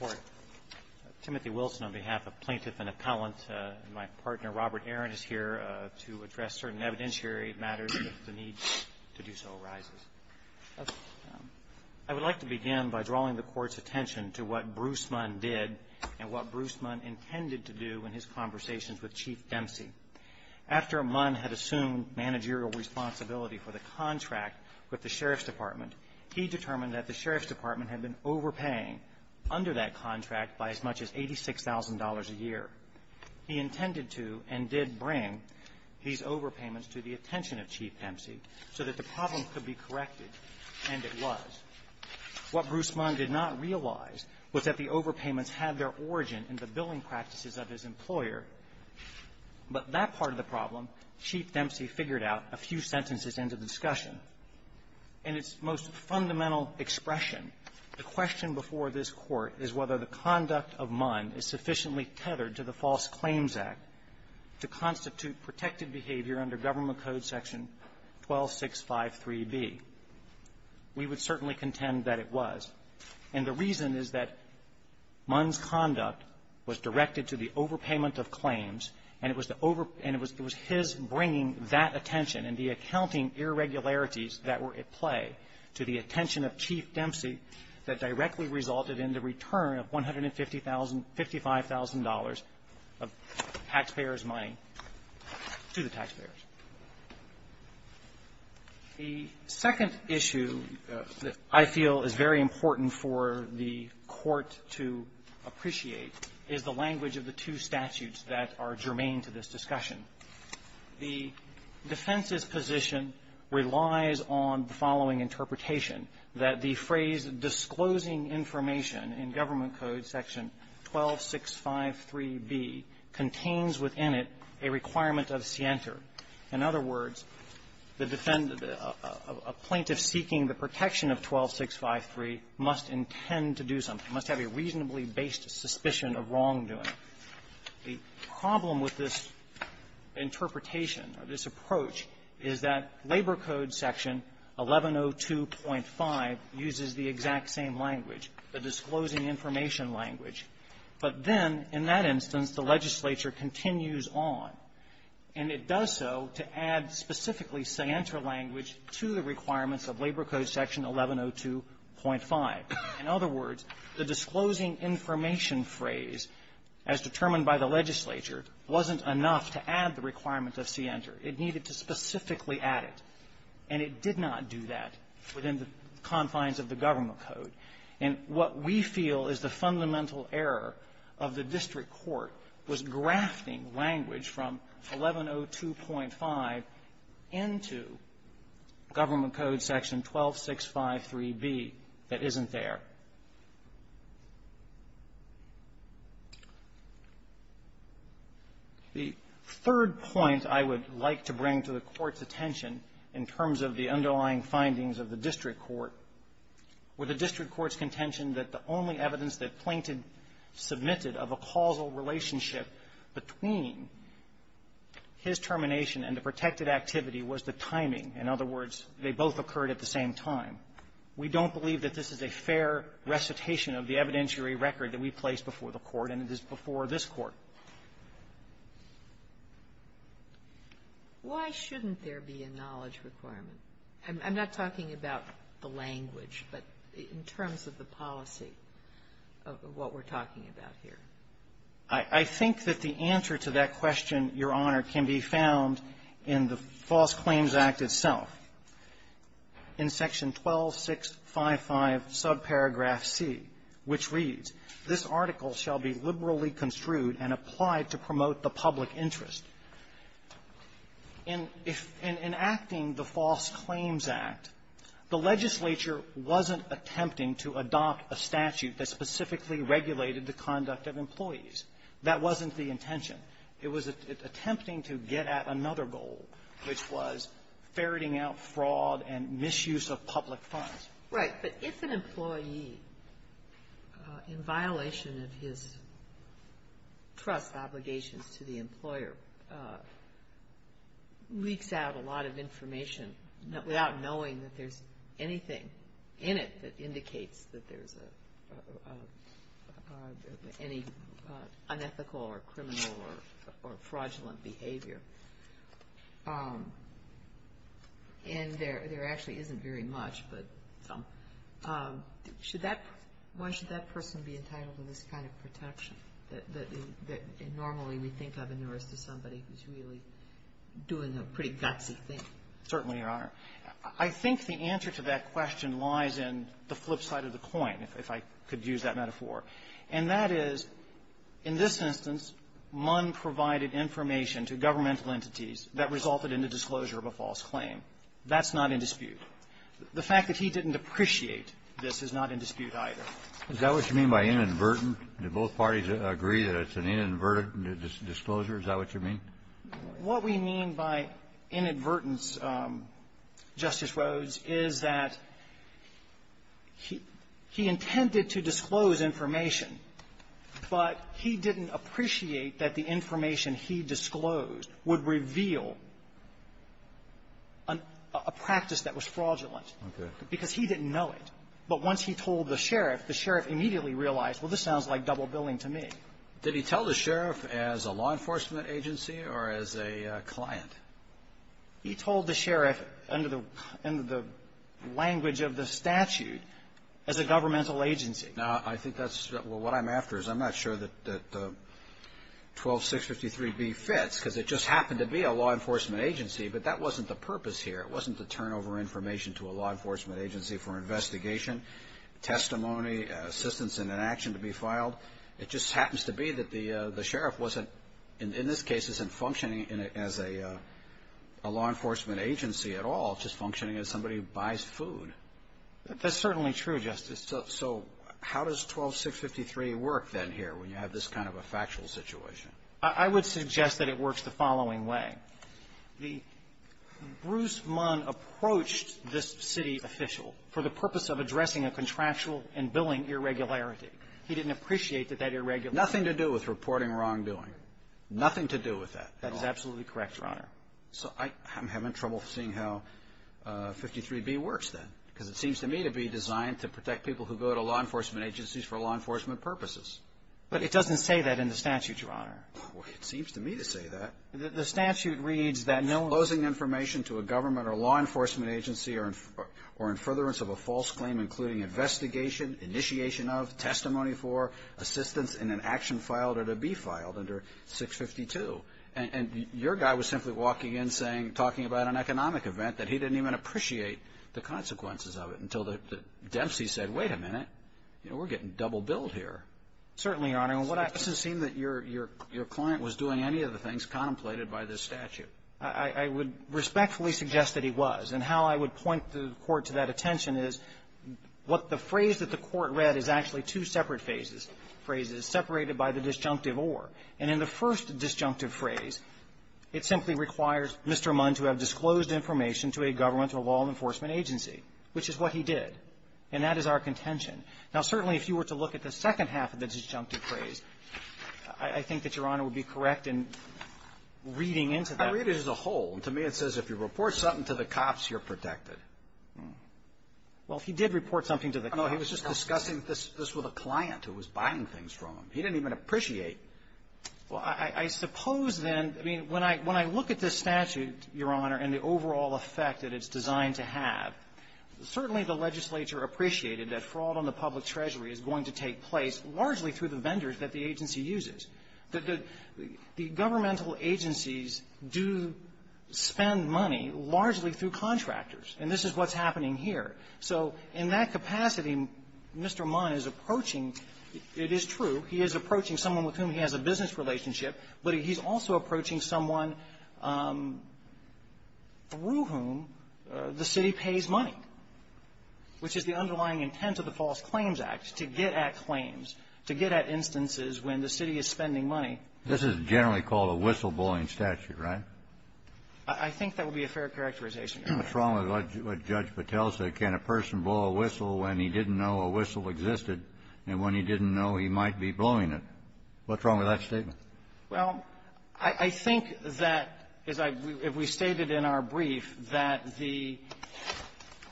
Court, Timothy Wilson on behalf of Plaintiff and Appellant, and my partner Robert Aron is here to address certain evidentiary matters if the need to do so arises. I would like to begin by drawing the Court's attention to what Bruce Munn did and what Bruce Munn intended to do in his conversations with Chief Dempsey. After Munn had assumed managerial responsibility for the contract with the Sheriff's Department, he determined that the Sheriff's Department had been overpaying under that contract by as much as $86,000 a year. He intended to and did bring these overpayments to the attention of Chief Dempsey so that the problem could be corrected, and it was. What Bruce Munn did not realize was that the overpayments had their origin in the billing that Chief Dempsey figured out a few sentences into the discussion. In its most fundamental expression, the question before this Court is whether the conduct of Munn is sufficiently tethered to the False Claims Act to constitute protected behavior under Government Code section 12653b. We would certainly contend that it was. And the reason is that Munn's conduct was directed to the overpayment of claims, and it was the over, and it was his bringing that attention and the accounting irregularities that were at play to the attention of Chief Dempsey that directly resulted in the return of $150,000, $55,000 of taxpayers' money to the taxpayers. The second issue that I feel is very important for the Court to appreciate is the language of the two statutes that are germane to this discussion. The defense's position relies on the following interpretation, that the phrase, disclosing information in Government Code section 12653b, contains within it a requirement of scienter. In other words, the defendant, a plaintiff seeking the protection of 12653 must intend to do something, must have a reasonably based suspicion of wrongdoing. The problem with this interpretation or this approach is that Labor Code section 1102.5 uses the exact same language, the disclosing information language. But then, in that instance, the legislature continues on, and it does so to add specifically scienter language to the requirements of Labor Code section 1102.5. In other words, the disclosing information phrase, as determined by the legislature, wasn't enough to add the requirement of scienter. It needed to specifically add it. And it did not do that within the confines of the Government Code. And what we feel is the fundamental error of the district court was grafting language from 1102.5 into Government Code section 12653b that isn't there. The third point I would like to bring to the Court's attention, in terms of the underlying findings of the district court, were the district court's contention that the only evidence that plaintiff did not have of a causal relationship between his termination and the protected activity was the timing. In other words, they both occurred at the same time. We don't believe that this is a fair recitation of the evidentiary record that we place before the Court, and it is before this Court. Sotomayor, why shouldn't there be a knowledge requirement? I'm not talking about the language, but in terms of the policy of what we're talking about here. I think that the answer to that question, Your Honor, can be found in the False Claims Act itself, in section 12655, subparagraph C, which reads, This article shall be liberally construed and applied to promote the public interest. In enacting the False Claims Act, the legislature wasn't attempting to adopt a statute that specifically regulated the conduct of employees. That wasn't the intention. It was attempting to get at another goal, which was ferreting out fraud and misuse of public funds. Right. But if an employee, in violation of his trust obligations to the employer, leaks out a lot of information without knowing that there's anything in it that indicates that there's any unethical or criminal or fraudulent behavior, and there actually isn't very much, but some, why should that person be entitled to this kind of protection that normally we think of in the rest of somebody who's really doing a pretty gutsy thing? Certainly, Your Honor. I think the answer to that question lies in the flip side of the coin, if I could use that metaphor. And that is, in this instance, Munn provided information to governmental entities that resulted in the disclosure of a false claim. That's not in dispute. The fact that he didn't appreciate this is not in dispute either. Is that what you mean by inadvertent? Did both parties agree that it's an inadvertent disclosure? Is that what you mean? What we mean by inadvertence, Justice Rhodes, is that he intended to disclose information, but he didn't appreciate that the information he disclosed would reveal a practice that was fraudulent. Okay. Because he didn't know it. But once he told the sheriff, the sheriff immediately realized, well, this sounds like double billing to me. Did he tell the sheriff as a law enforcement agency or as a client? He told the sheriff under the language of the statute as a governmental agency. Now, I think that's what I'm after is I'm not sure that 12653B fits because it just happened to be a law enforcement agency, but that wasn't the purpose here. It wasn't to turn over information to a law enforcement agency for investigation, testimony, assistance in an action to be filed. It just happens to be that the sheriff wasn't, in this case, isn't functioning as a law enforcement agency at all, just functioning as somebody who buys food. That's certainly true, Justice. So how does 12653 work then here when you have this kind of a factual situation? I would suggest that it works the following way. The Bruce Munn approached this city official for the purpose of addressing a contractual and billing irregularity. He didn't appreciate that that irregularity was there. Nothing to do with reporting wrongdoing. Nothing to do with that at all. That is absolutely correct, Your Honor. So I'm having trouble seeing how 53B works then because it seems to me to be designed to protect people who go to law enforcement agencies for law enforcement purposes. But it doesn't say that in the statute, Your Honor. Well, it seems to me to say that. The statute reads that no closing information to a government or law enforcement agency or in furtherance of a false claim including investigation, initiation of, testimony for, assistance in an action filed or to be filed under 652. And your guy was simply walking in talking about an economic event that he didn't even appreciate the consequences of it until Dempsey said, wait a minute, we're getting double billed here. Certainly, Your Honor. It doesn't seem that your client was doing any of the things contemplated by this statute. I would respectfully suggest that he was. And how I would point the Court to that attention is what the phrase that the Court read is actually two separate phrases, separated by the disjunctive or. And in the first disjunctive phrase, it simply requires Mr. Munn to have disclosed information to a government or law enforcement agency, which is what he did. And that is our contention. Now, certainly, if you were to look at the second half of the disjunctive phrase, I think that, Your Honor, would be correct in reading into that. I read it as a whole. To me, it says if you report something to the cops, you're protected. Well, he did report something to the cops. No, he was just discussing this with a client who was buying things from him. He didn't even appreciate. Well, I suppose then, I mean, when I look at this statute, Your Honor, and the overall effect that it's designed to have, certainly the legislature appreciated that fraud on the public treasury is going to take place largely through the vendors that the agency uses. The governmental agencies do spend money largely through contractors. And this is what's happening here. So in that capacity, Mr. Munn is approaching – it is true – he is approaching someone with whom he has a business relationship, but he's also approaching someone through whom the city pays money, which is the underlying intent of the false claims act to get at claims, to get at instances when the city is spending money. This is generally called a whistleblowing statute, right? I think that would be a fair characterization, Your Honor. What's wrong with what Judge Patel said? Can a person blow a whistle when he didn't know a whistle existed, and when he didn't know, he might be blowing it? What's wrong with that statement? Well, I think that, as I've – we've stated in our brief that the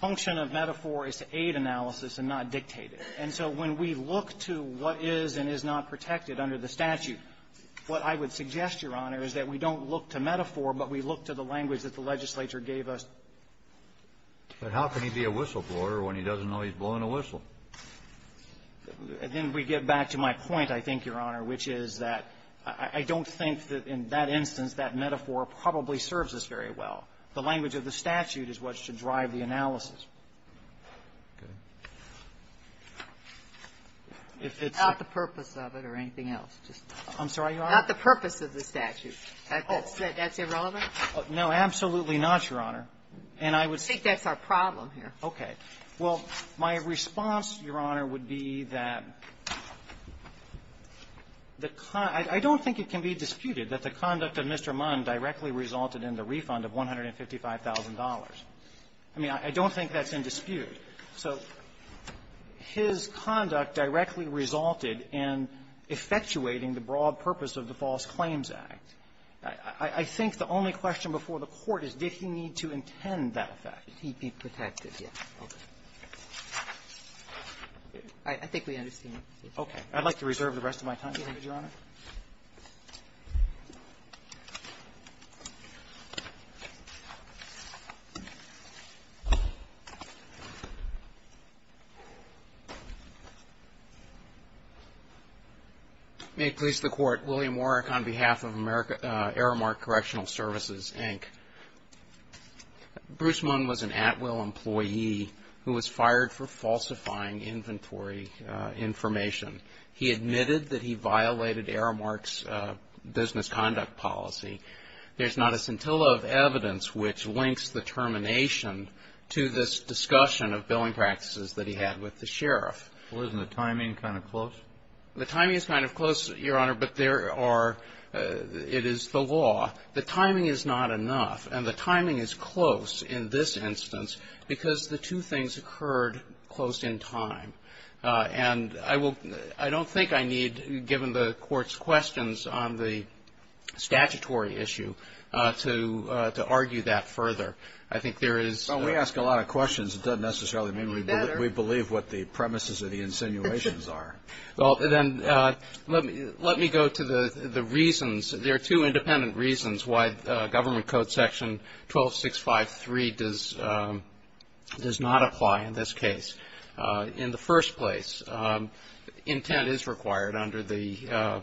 function of metaphor is to aid analysis and not dictate it. And so when we look to what is and is not protected under the statute, what I would suggest, Your Honor, is that we don't look to metaphor, but we look to the language that the legislature gave us. But how can he be a whistleblower when he doesn't know he's blowing a whistle? Then we get back to my point, I think, Your Honor, which is that I don't think that in that instance that metaphor probably serves us very well. The language of the statute is what should drive the analysis. If it's the purpose of it or anything else. I'm sorry, Your Honor? Not the purpose of the statute. That's irrelevant? No, absolutely not, Your Honor. And I would say that's our problem here. Okay. Well, my response, Your Honor, would be that the – I don't think it can be disputed that the conduct of Mr. Munn directly resulted in the refund of $155,000. I mean, I don't think that's in dispute. So his conduct directly resulted in effectuating the broad purpose of the False Claims Act. I think the only question before the Court is, did he need to intend that effect? He'd be protected, yes. Okay. I think we understand. Okay. I'd like to reserve the rest of my time, Your Honor. May it please the Court, William Warrick on behalf of Aramark Correctional Services, Inc. Bruce Munn was an Atwill employee who was fired for falsifying inventory information. He admitted that he violated Aramark's business conduct policy. There's not a scintilla of evidence which links the termination to this discussion of billing practices that he had with the sheriff. Well, isn't the timing kind of close? The timing is kind of close, Your Honor, but there are – it is the law. The timing is not enough, and the timing is close in this instance because the two things occurred close in time, and I will – I don't think I need, given the Court's questions on the statutory issue, to argue that further. I think there is – Well, we ask a lot of questions. It doesn't necessarily mean we believe what the premises of the insinuations are. Well, then let me go to the reasons. There are two independent reasons why Government Code Section 12653 does not apply in this case. In the first place, intent is required under the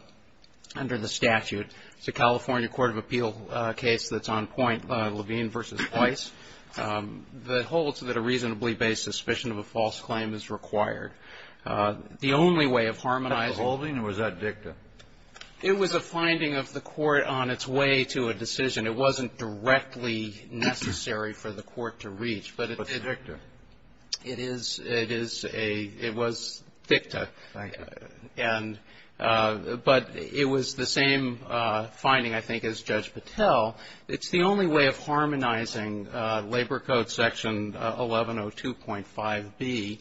statute. It's a California court of appeal case that's on point, Levine v. Weiss, that holds that a reasonably-based suspicion of a false claim is required. The only way of harmonizing – Was that beholding or was that dicta? It was a finding of the Court on its way to a decision. It wasn't directly necessary for the Court to reach, but it did. But it's dicta. It is. It is a – it was dicta. Thank you. And – but it was the same finding, I think, as Judge Patel. It's the only way of harmonizing Labor Code Section 1102.5b,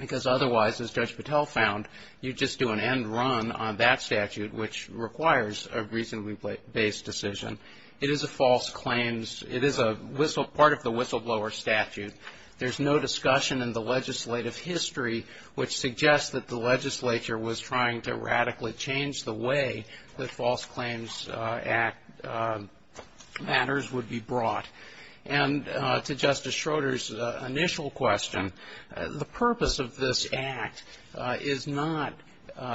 because otherwise, as Judge Patel found, you just do an end run on that statute, which requires a reasonably-based decision. It is a false claims – it is a whistle – part of the whistleblower statute. There's no discussion in the legislative history which suggests that the legislature was trying to radically change the way that false claims matters would be brought. And to Justice Schroeder's initial question, the purpose of this Act is not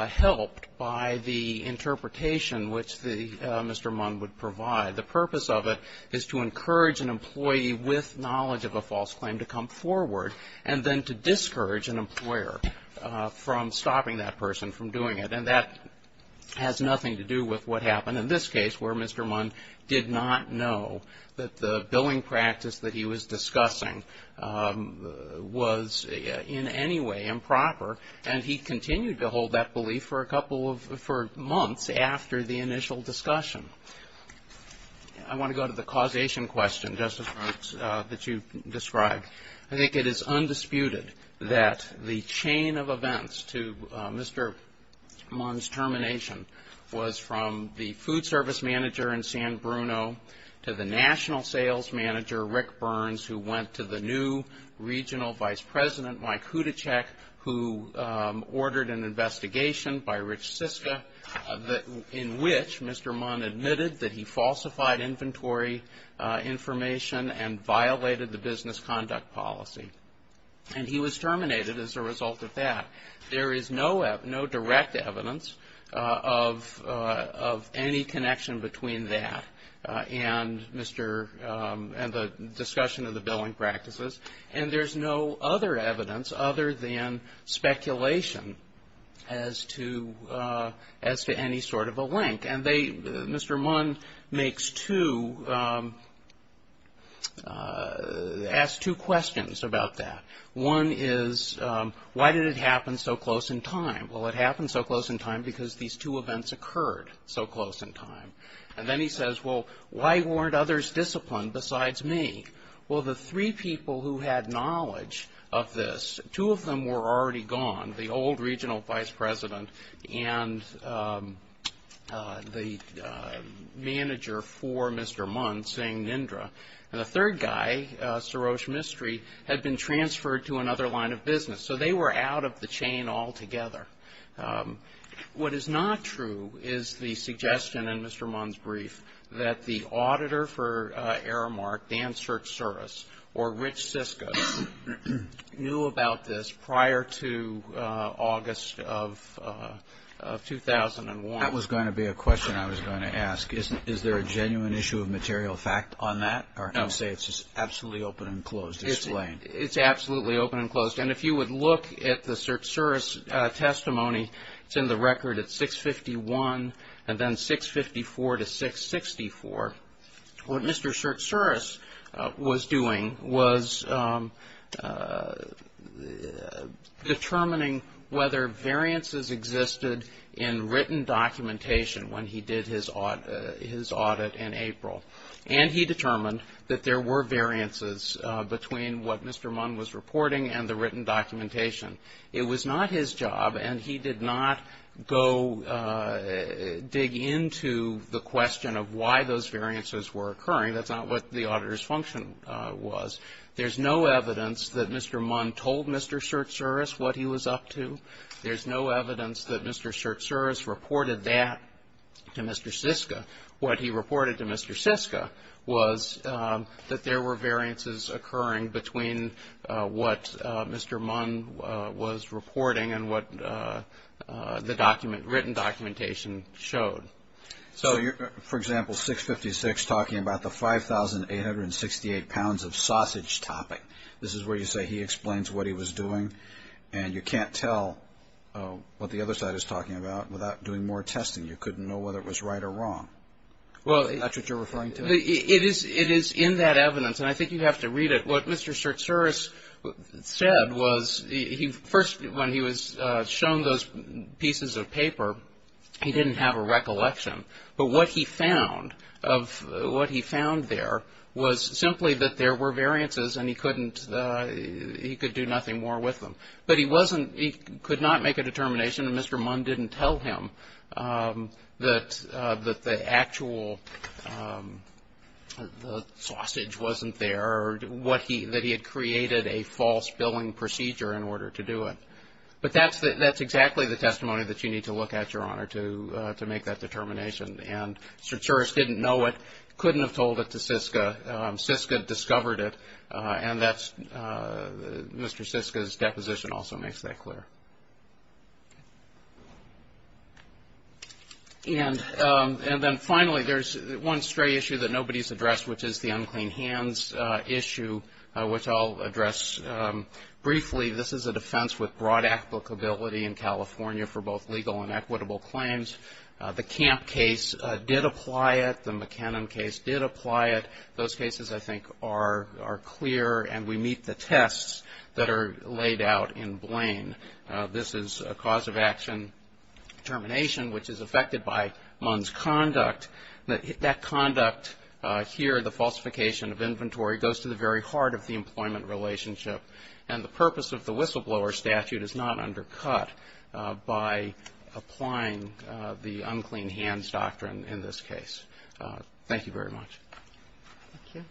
helped by the interpretation which the – Mr. Munn would provide. The purpose of it is to encourage an employee with knowledge of a false claim to come forward and then to discourage an employer from stopping that person from doing it. And that has nothing to do with what happened in this case, where Mr. Munn did not know that the billing practice that he was discussing was in any way improper, and he continued to hold that belief for a couple of – for months after the initial discussion. I want to go to the causation question, Justice Brooks, that you described. I think it is undisputed that the chain of events to Mr. Munn's termination was from the food service manager in San Bruno to the national sales manager, Rick Burns, who went to the new regional vice president, Mike Hudecek, who ordered an investigation by Rich Siska in which Mr. Munn admitted that he falsified inventory information and violated the business conduct policy. And he was terminated as a result of that. There is no direct evidence of any connection between that and Mr. – and the discussion of the billing practices. And there's no other evidence other than speculation as to any sort of a link. And they – Mr. Munn makes two – asked two questions about that. One is, why did it happen so close in time? Well, it happened so close in time because these two events occurred so close in time. And then he says, well, why weren't others disciplined besides me? Well, the three people who had knowledge of this, two of them were already gone, the old regional vice president and the manager for Mr. Munn, Singh Nindra, and the third guy, Saroj Mistry, had been transferred to another line of business. So they were out of the chain altogether. What is not true is the suggestion in Mr. Munn's brief that the auditor for Aramark, Dan Sertsuras, or Rich Siska, knew about this prior to August of 2001. That was going to be a question I was going to ask. Is there a genuine issue of material fact on that? Or I'm going to say it's just absolutely open and closed, it's plain. It's absolutely open and closed. And if you would look at the Sertsuras testimony, it's in the record at 651 and then 654-664. What Mr. Sertsuras was doing was determining whether variances existed in written documentation when he did his audit in April. And he determined that there were variances between what Mr. Munn was reporting and the written documentation. It was not his job and he did not go dig into the question of why those variances were occurring. That's not what the auditor's function was. There's no evidence that Mr. Munn told Mr. Sertsuras what he was up to. There's no evidence that Mr. Sertsuras reported that to Mr. Siska. What he reported to Mr. Siska was that there were variances occurring between what Mr. Munn was reporting and what the written documentation showed. For example, 656 talking about the 5,868 pounds of sausage topping. This is where you say he explains what he was doing and you can't tell what the other side is talking about without doing more testing. You couldn't know whether it was right or wrong. Is that what you're referring to? It is in that evidence and I think you have to read it. What Mr. Sertsuras said was first when he was shown those pieces of paper, he didn't have a recollection. But what he found there was simply that there were variances and he couldn't do nothing more with them. But he could not make a determination and Mr. Munn didn't tell him that the actual sausage wasn't there or that he had created a false billing procedure in order to do it. But that's exactly the testimony that you need to look at, Your Honor, to make that determination and Sertsuras didn't know it, couldn't have told it to Siska. Siska discovered it and Mr. Siska's deposition also makes that clear. And then finally, there's one stray issue that nobody's addressed which is the unclean hands issue which I'll address briefly. This is a defense with broad applicability in California for both legal and equitable claims. The Camp case did apply it, the McKinnon case did apply it. Those cases I think are clear and we meet the tests that are laid out in Blaine. This is a cause of action determination which is affected by Munn's conduct. That conduct here, the falsification of inventory, goes to the very heart of the employment relationship and the purpose of the whistleblower statute is not undercut by applying the unclean hands doctrine in this case. Thank you very much. Thank you.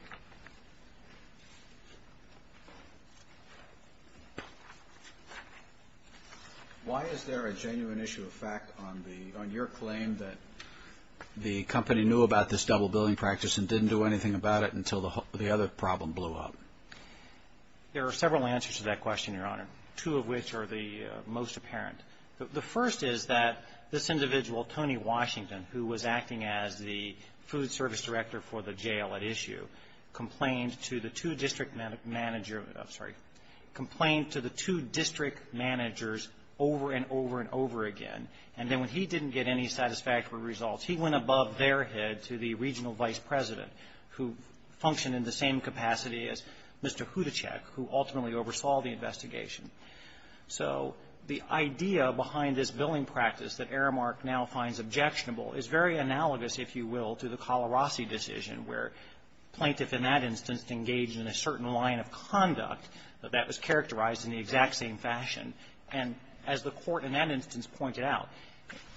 Why is there a genuine issue of fact on your claim that the company knew about this double billing practice and didn't do anything about it until the other problem blew up? There are several answers to that question, Your Honor, two of which are the most apparent. The first is that this individual, Tony Washington, who was acting as the food service director for the jail at issue, complained to the two district managers over and over and over again and then when he didn't get any satisfactory results, he went above their head to the regional Mr. Hudachek, who ultimately oversaw the investigation. So the idea behind this billing practice that Aramark now finds objectionable is very analogous, if you will, to the Calarasi decision where plaintiff in that instance engaged in a certain line of conduct that that was characterized in the exact same fashion and as the court in that instance pointed out,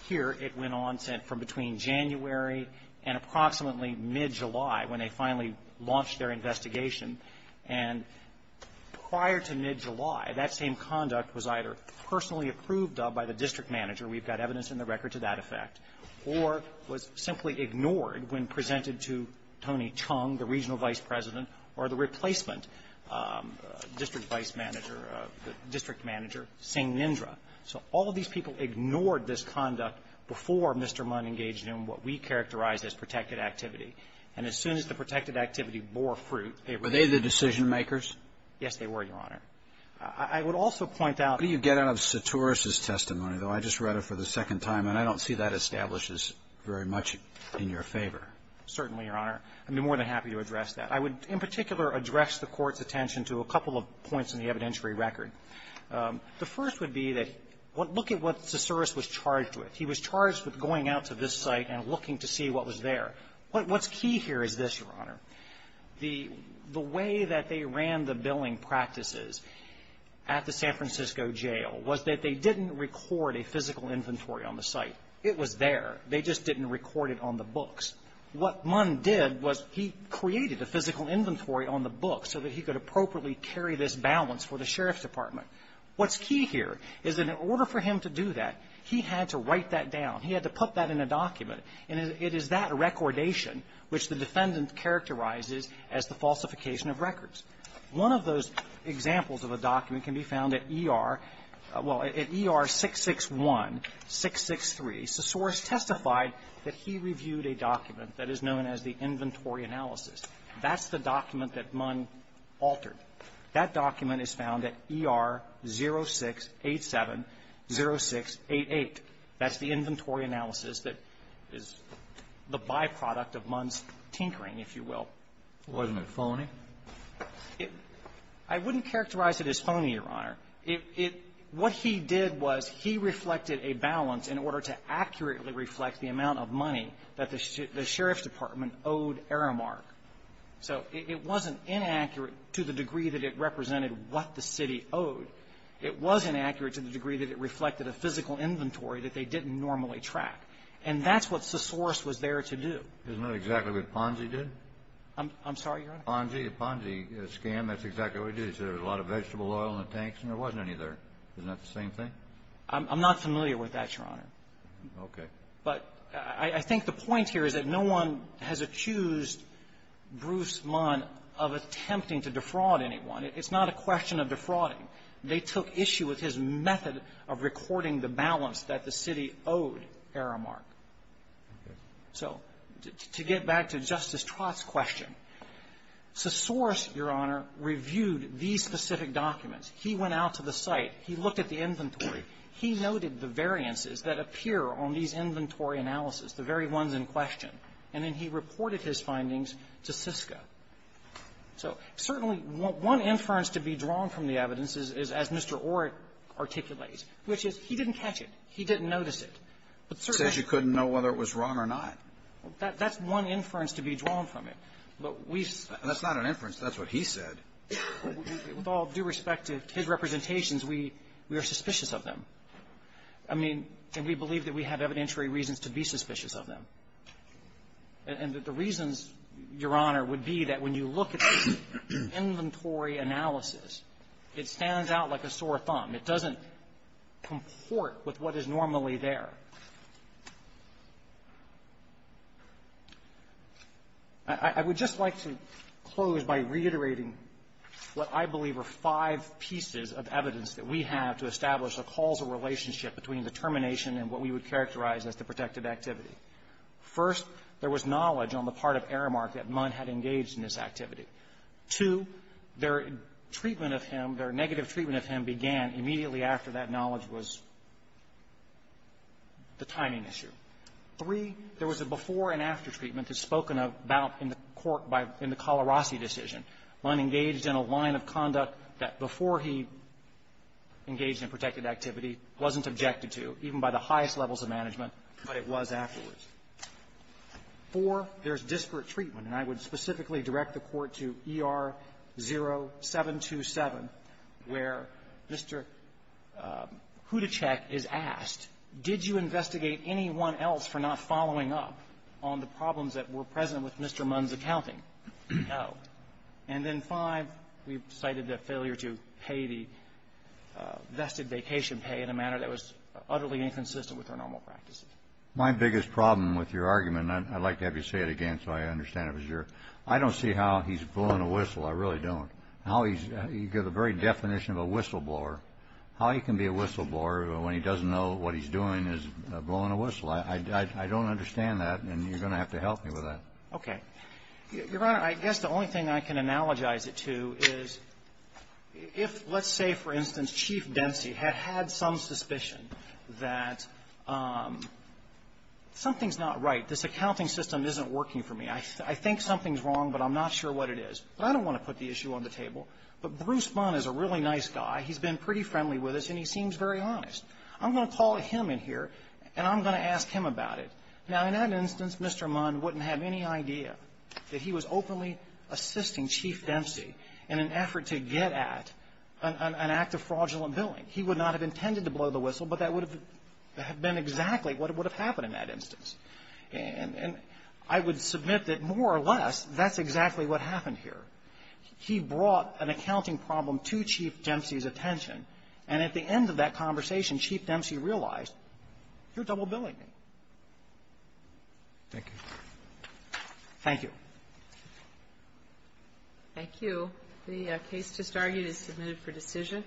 here it went on from between January and approximately mid-July when they finally launched their investigation and prior to mid-July, that same conduct was either personally approved of by the district manager, we've got evidence in the record to that effect, or was simply ignored when presented to Tony Chung, the regional vice president, or the replacement district vice manager, district manager, Singh Nindra. So all of these people ignored this conduct before Mr. Munn engaged in what we characterize as protected activity. And as soon as the protected activity bore fruit, they were the decision-makers? Yes, they were, Your Honor. I would also point out What do you get out of Soturis' testimony, though? I just read it for the second time and I don't see that establishes very much in your favor. Certainly, Your Honor. I'd be more than happy to address that. I would in particular address the Court's attention to a couple of points in the evidentiary record. The first would be that look at what Soturis was charged with. He was charged with going out to this site and looking to see what was there. What's key here is this, Your Honor. The way that they ran the billing practices at the San Francisco jail was that they didn't record a physical inventory on the site. It was there. They just didn't record it on the books. What Munn did was he created a physical inventory on the book so that he could appropriately carry this balance for the sheriff's department. What's key here is that in order for him to do that, he had to write that down. He had to put that in a document. And it is that recordation which the defendant characterizes as the falsification of records. One of those examples of a document can be found at ER — well, at ER 661, 663. Soturis testified that he reviewed a document that is known as the inventory analysis. That's the document that Munn altered. That document is found at ER 0687-0688. That's the inventory analysis that is the byproduct of Munn's tinkering, if you will. Wasn't it phony? It — I wouldn't characterize it as phony, Your Honor. It — it — what he did was he reflected a balance in order to accurately reflect the amount of money that the sheriff's department owed Aramark. So it wasn't inaccurate to the degree that it represented what the city owed. It was inaccurate to the degree that it reflected a physical inventory that they didn't normally track. And that's what Soturis was there to do. Isn't that exactly what Ponzi did? I'm — I'm sorry, Your Honor? Ponzi. The Ponzi scam, that's exactly what he did. He said there was a lot of vegetable oil in the tanks, and there wasn't any there. Isn't that the same thing? I'm — I'm not familiar with that, Your Honor. Okay. But I — I think the point here is that no one has accused Bruce Munn of attempting to defraud anyone. It's not a question of defrauding. They took issue with his method of recording the balance that the city owed Aramark. Okay. So to get back to Justice Trott's question, Soturis, Your Honor, reviewed these specific documents. He went out to the site. He looked at the inventory. He noted the variances that appear on these inventory analyses, the very ones in question. And then he reported his findings to Sysco. So certainly, one inference to be drawn from the evidence is, as Mr. Orrick articulates, which is he didn't catch it. He didn't notice it. But certainly — Says you couldn't know whether it was wrong or not. That's one inference to be drawn from it. But we — That's not an inference. That's what he said. With all due respect to his representations, we are suspicious of them. I mean, and we believe that we have evidentiary reasons to be suspicious of them. And the reasons, Your Honor, would be that when you look at the inventory analysis, it stands out like a sore thumb. It doesn't comport with what is normally there. I would just like to close by reiterating what I believe are five pieces of evidence that we have to establish a causal relationship between the termination and what we would characterize as the protected activity. First, there was knowledge on the part of Aramark that Munn had engaged in this activity. Two, their treatment of him, their negative treatment of him, began immediately after that knowledge was the timing issue. Three, there was a before-and-after treatment that's spoken about in the court by — in the Calarasi decision. Munn engaged in a line of conduct that, before he engaged in protected activity, wasn't objected to, even by the highest levels of management, but it was afterwards. Four, there's disparate treatment. And I would specifically direct the Court to ER-0727, where Mr. Kudachek is asked, did you investigate anyone else for not following up on the problems that were present with Mr. Munn's accounting? No. And then, five, we've cited the failure to pay the vested vacation pay in a manner that was utterly inconsistent with our normal practices. My biggest problem with your argument, and I'd like to have you say it again so I understand it was your — I don't see how he's blowing a whistle. I really don't. How he's — the very definition of a whistleblower, how he can be a whistleblower when he doesn't know what he's doing is blowing a whistle. I don't understand that, and you're going to have to help me with that. Okay. Your Honor, I guess the only thing I can analogize it to is if, let's say, for instance, Chief Dempsey had had some suspicion that something's not right. This accounting system isn't working for me. I think something's wrong, but I'm not sure what it is. But I don't want to put the issue on the table. But Bruce Munn is a really nice guy. He's been pretty friendly with us, and he seems very honest. I'm going to call him in here, and I'm going to ask him about it. Now, in that instance, Mr. Munn wouldn't have that he was openly assisting Chief Dempsey in an effort to get at an act of fraudulent billing. He would not have intended to blow the whistle, but that would have been exactly what would have happened in that instance. And I would submit that, more or less, that's exactly what happened here. He brought an accounting problem to Chief Dempsey's attention, and at the end of that conversation, Chief Dempsey realized, you're double calling me. Thank you. Thank you. Thank you. The case just argued is submitted for decision.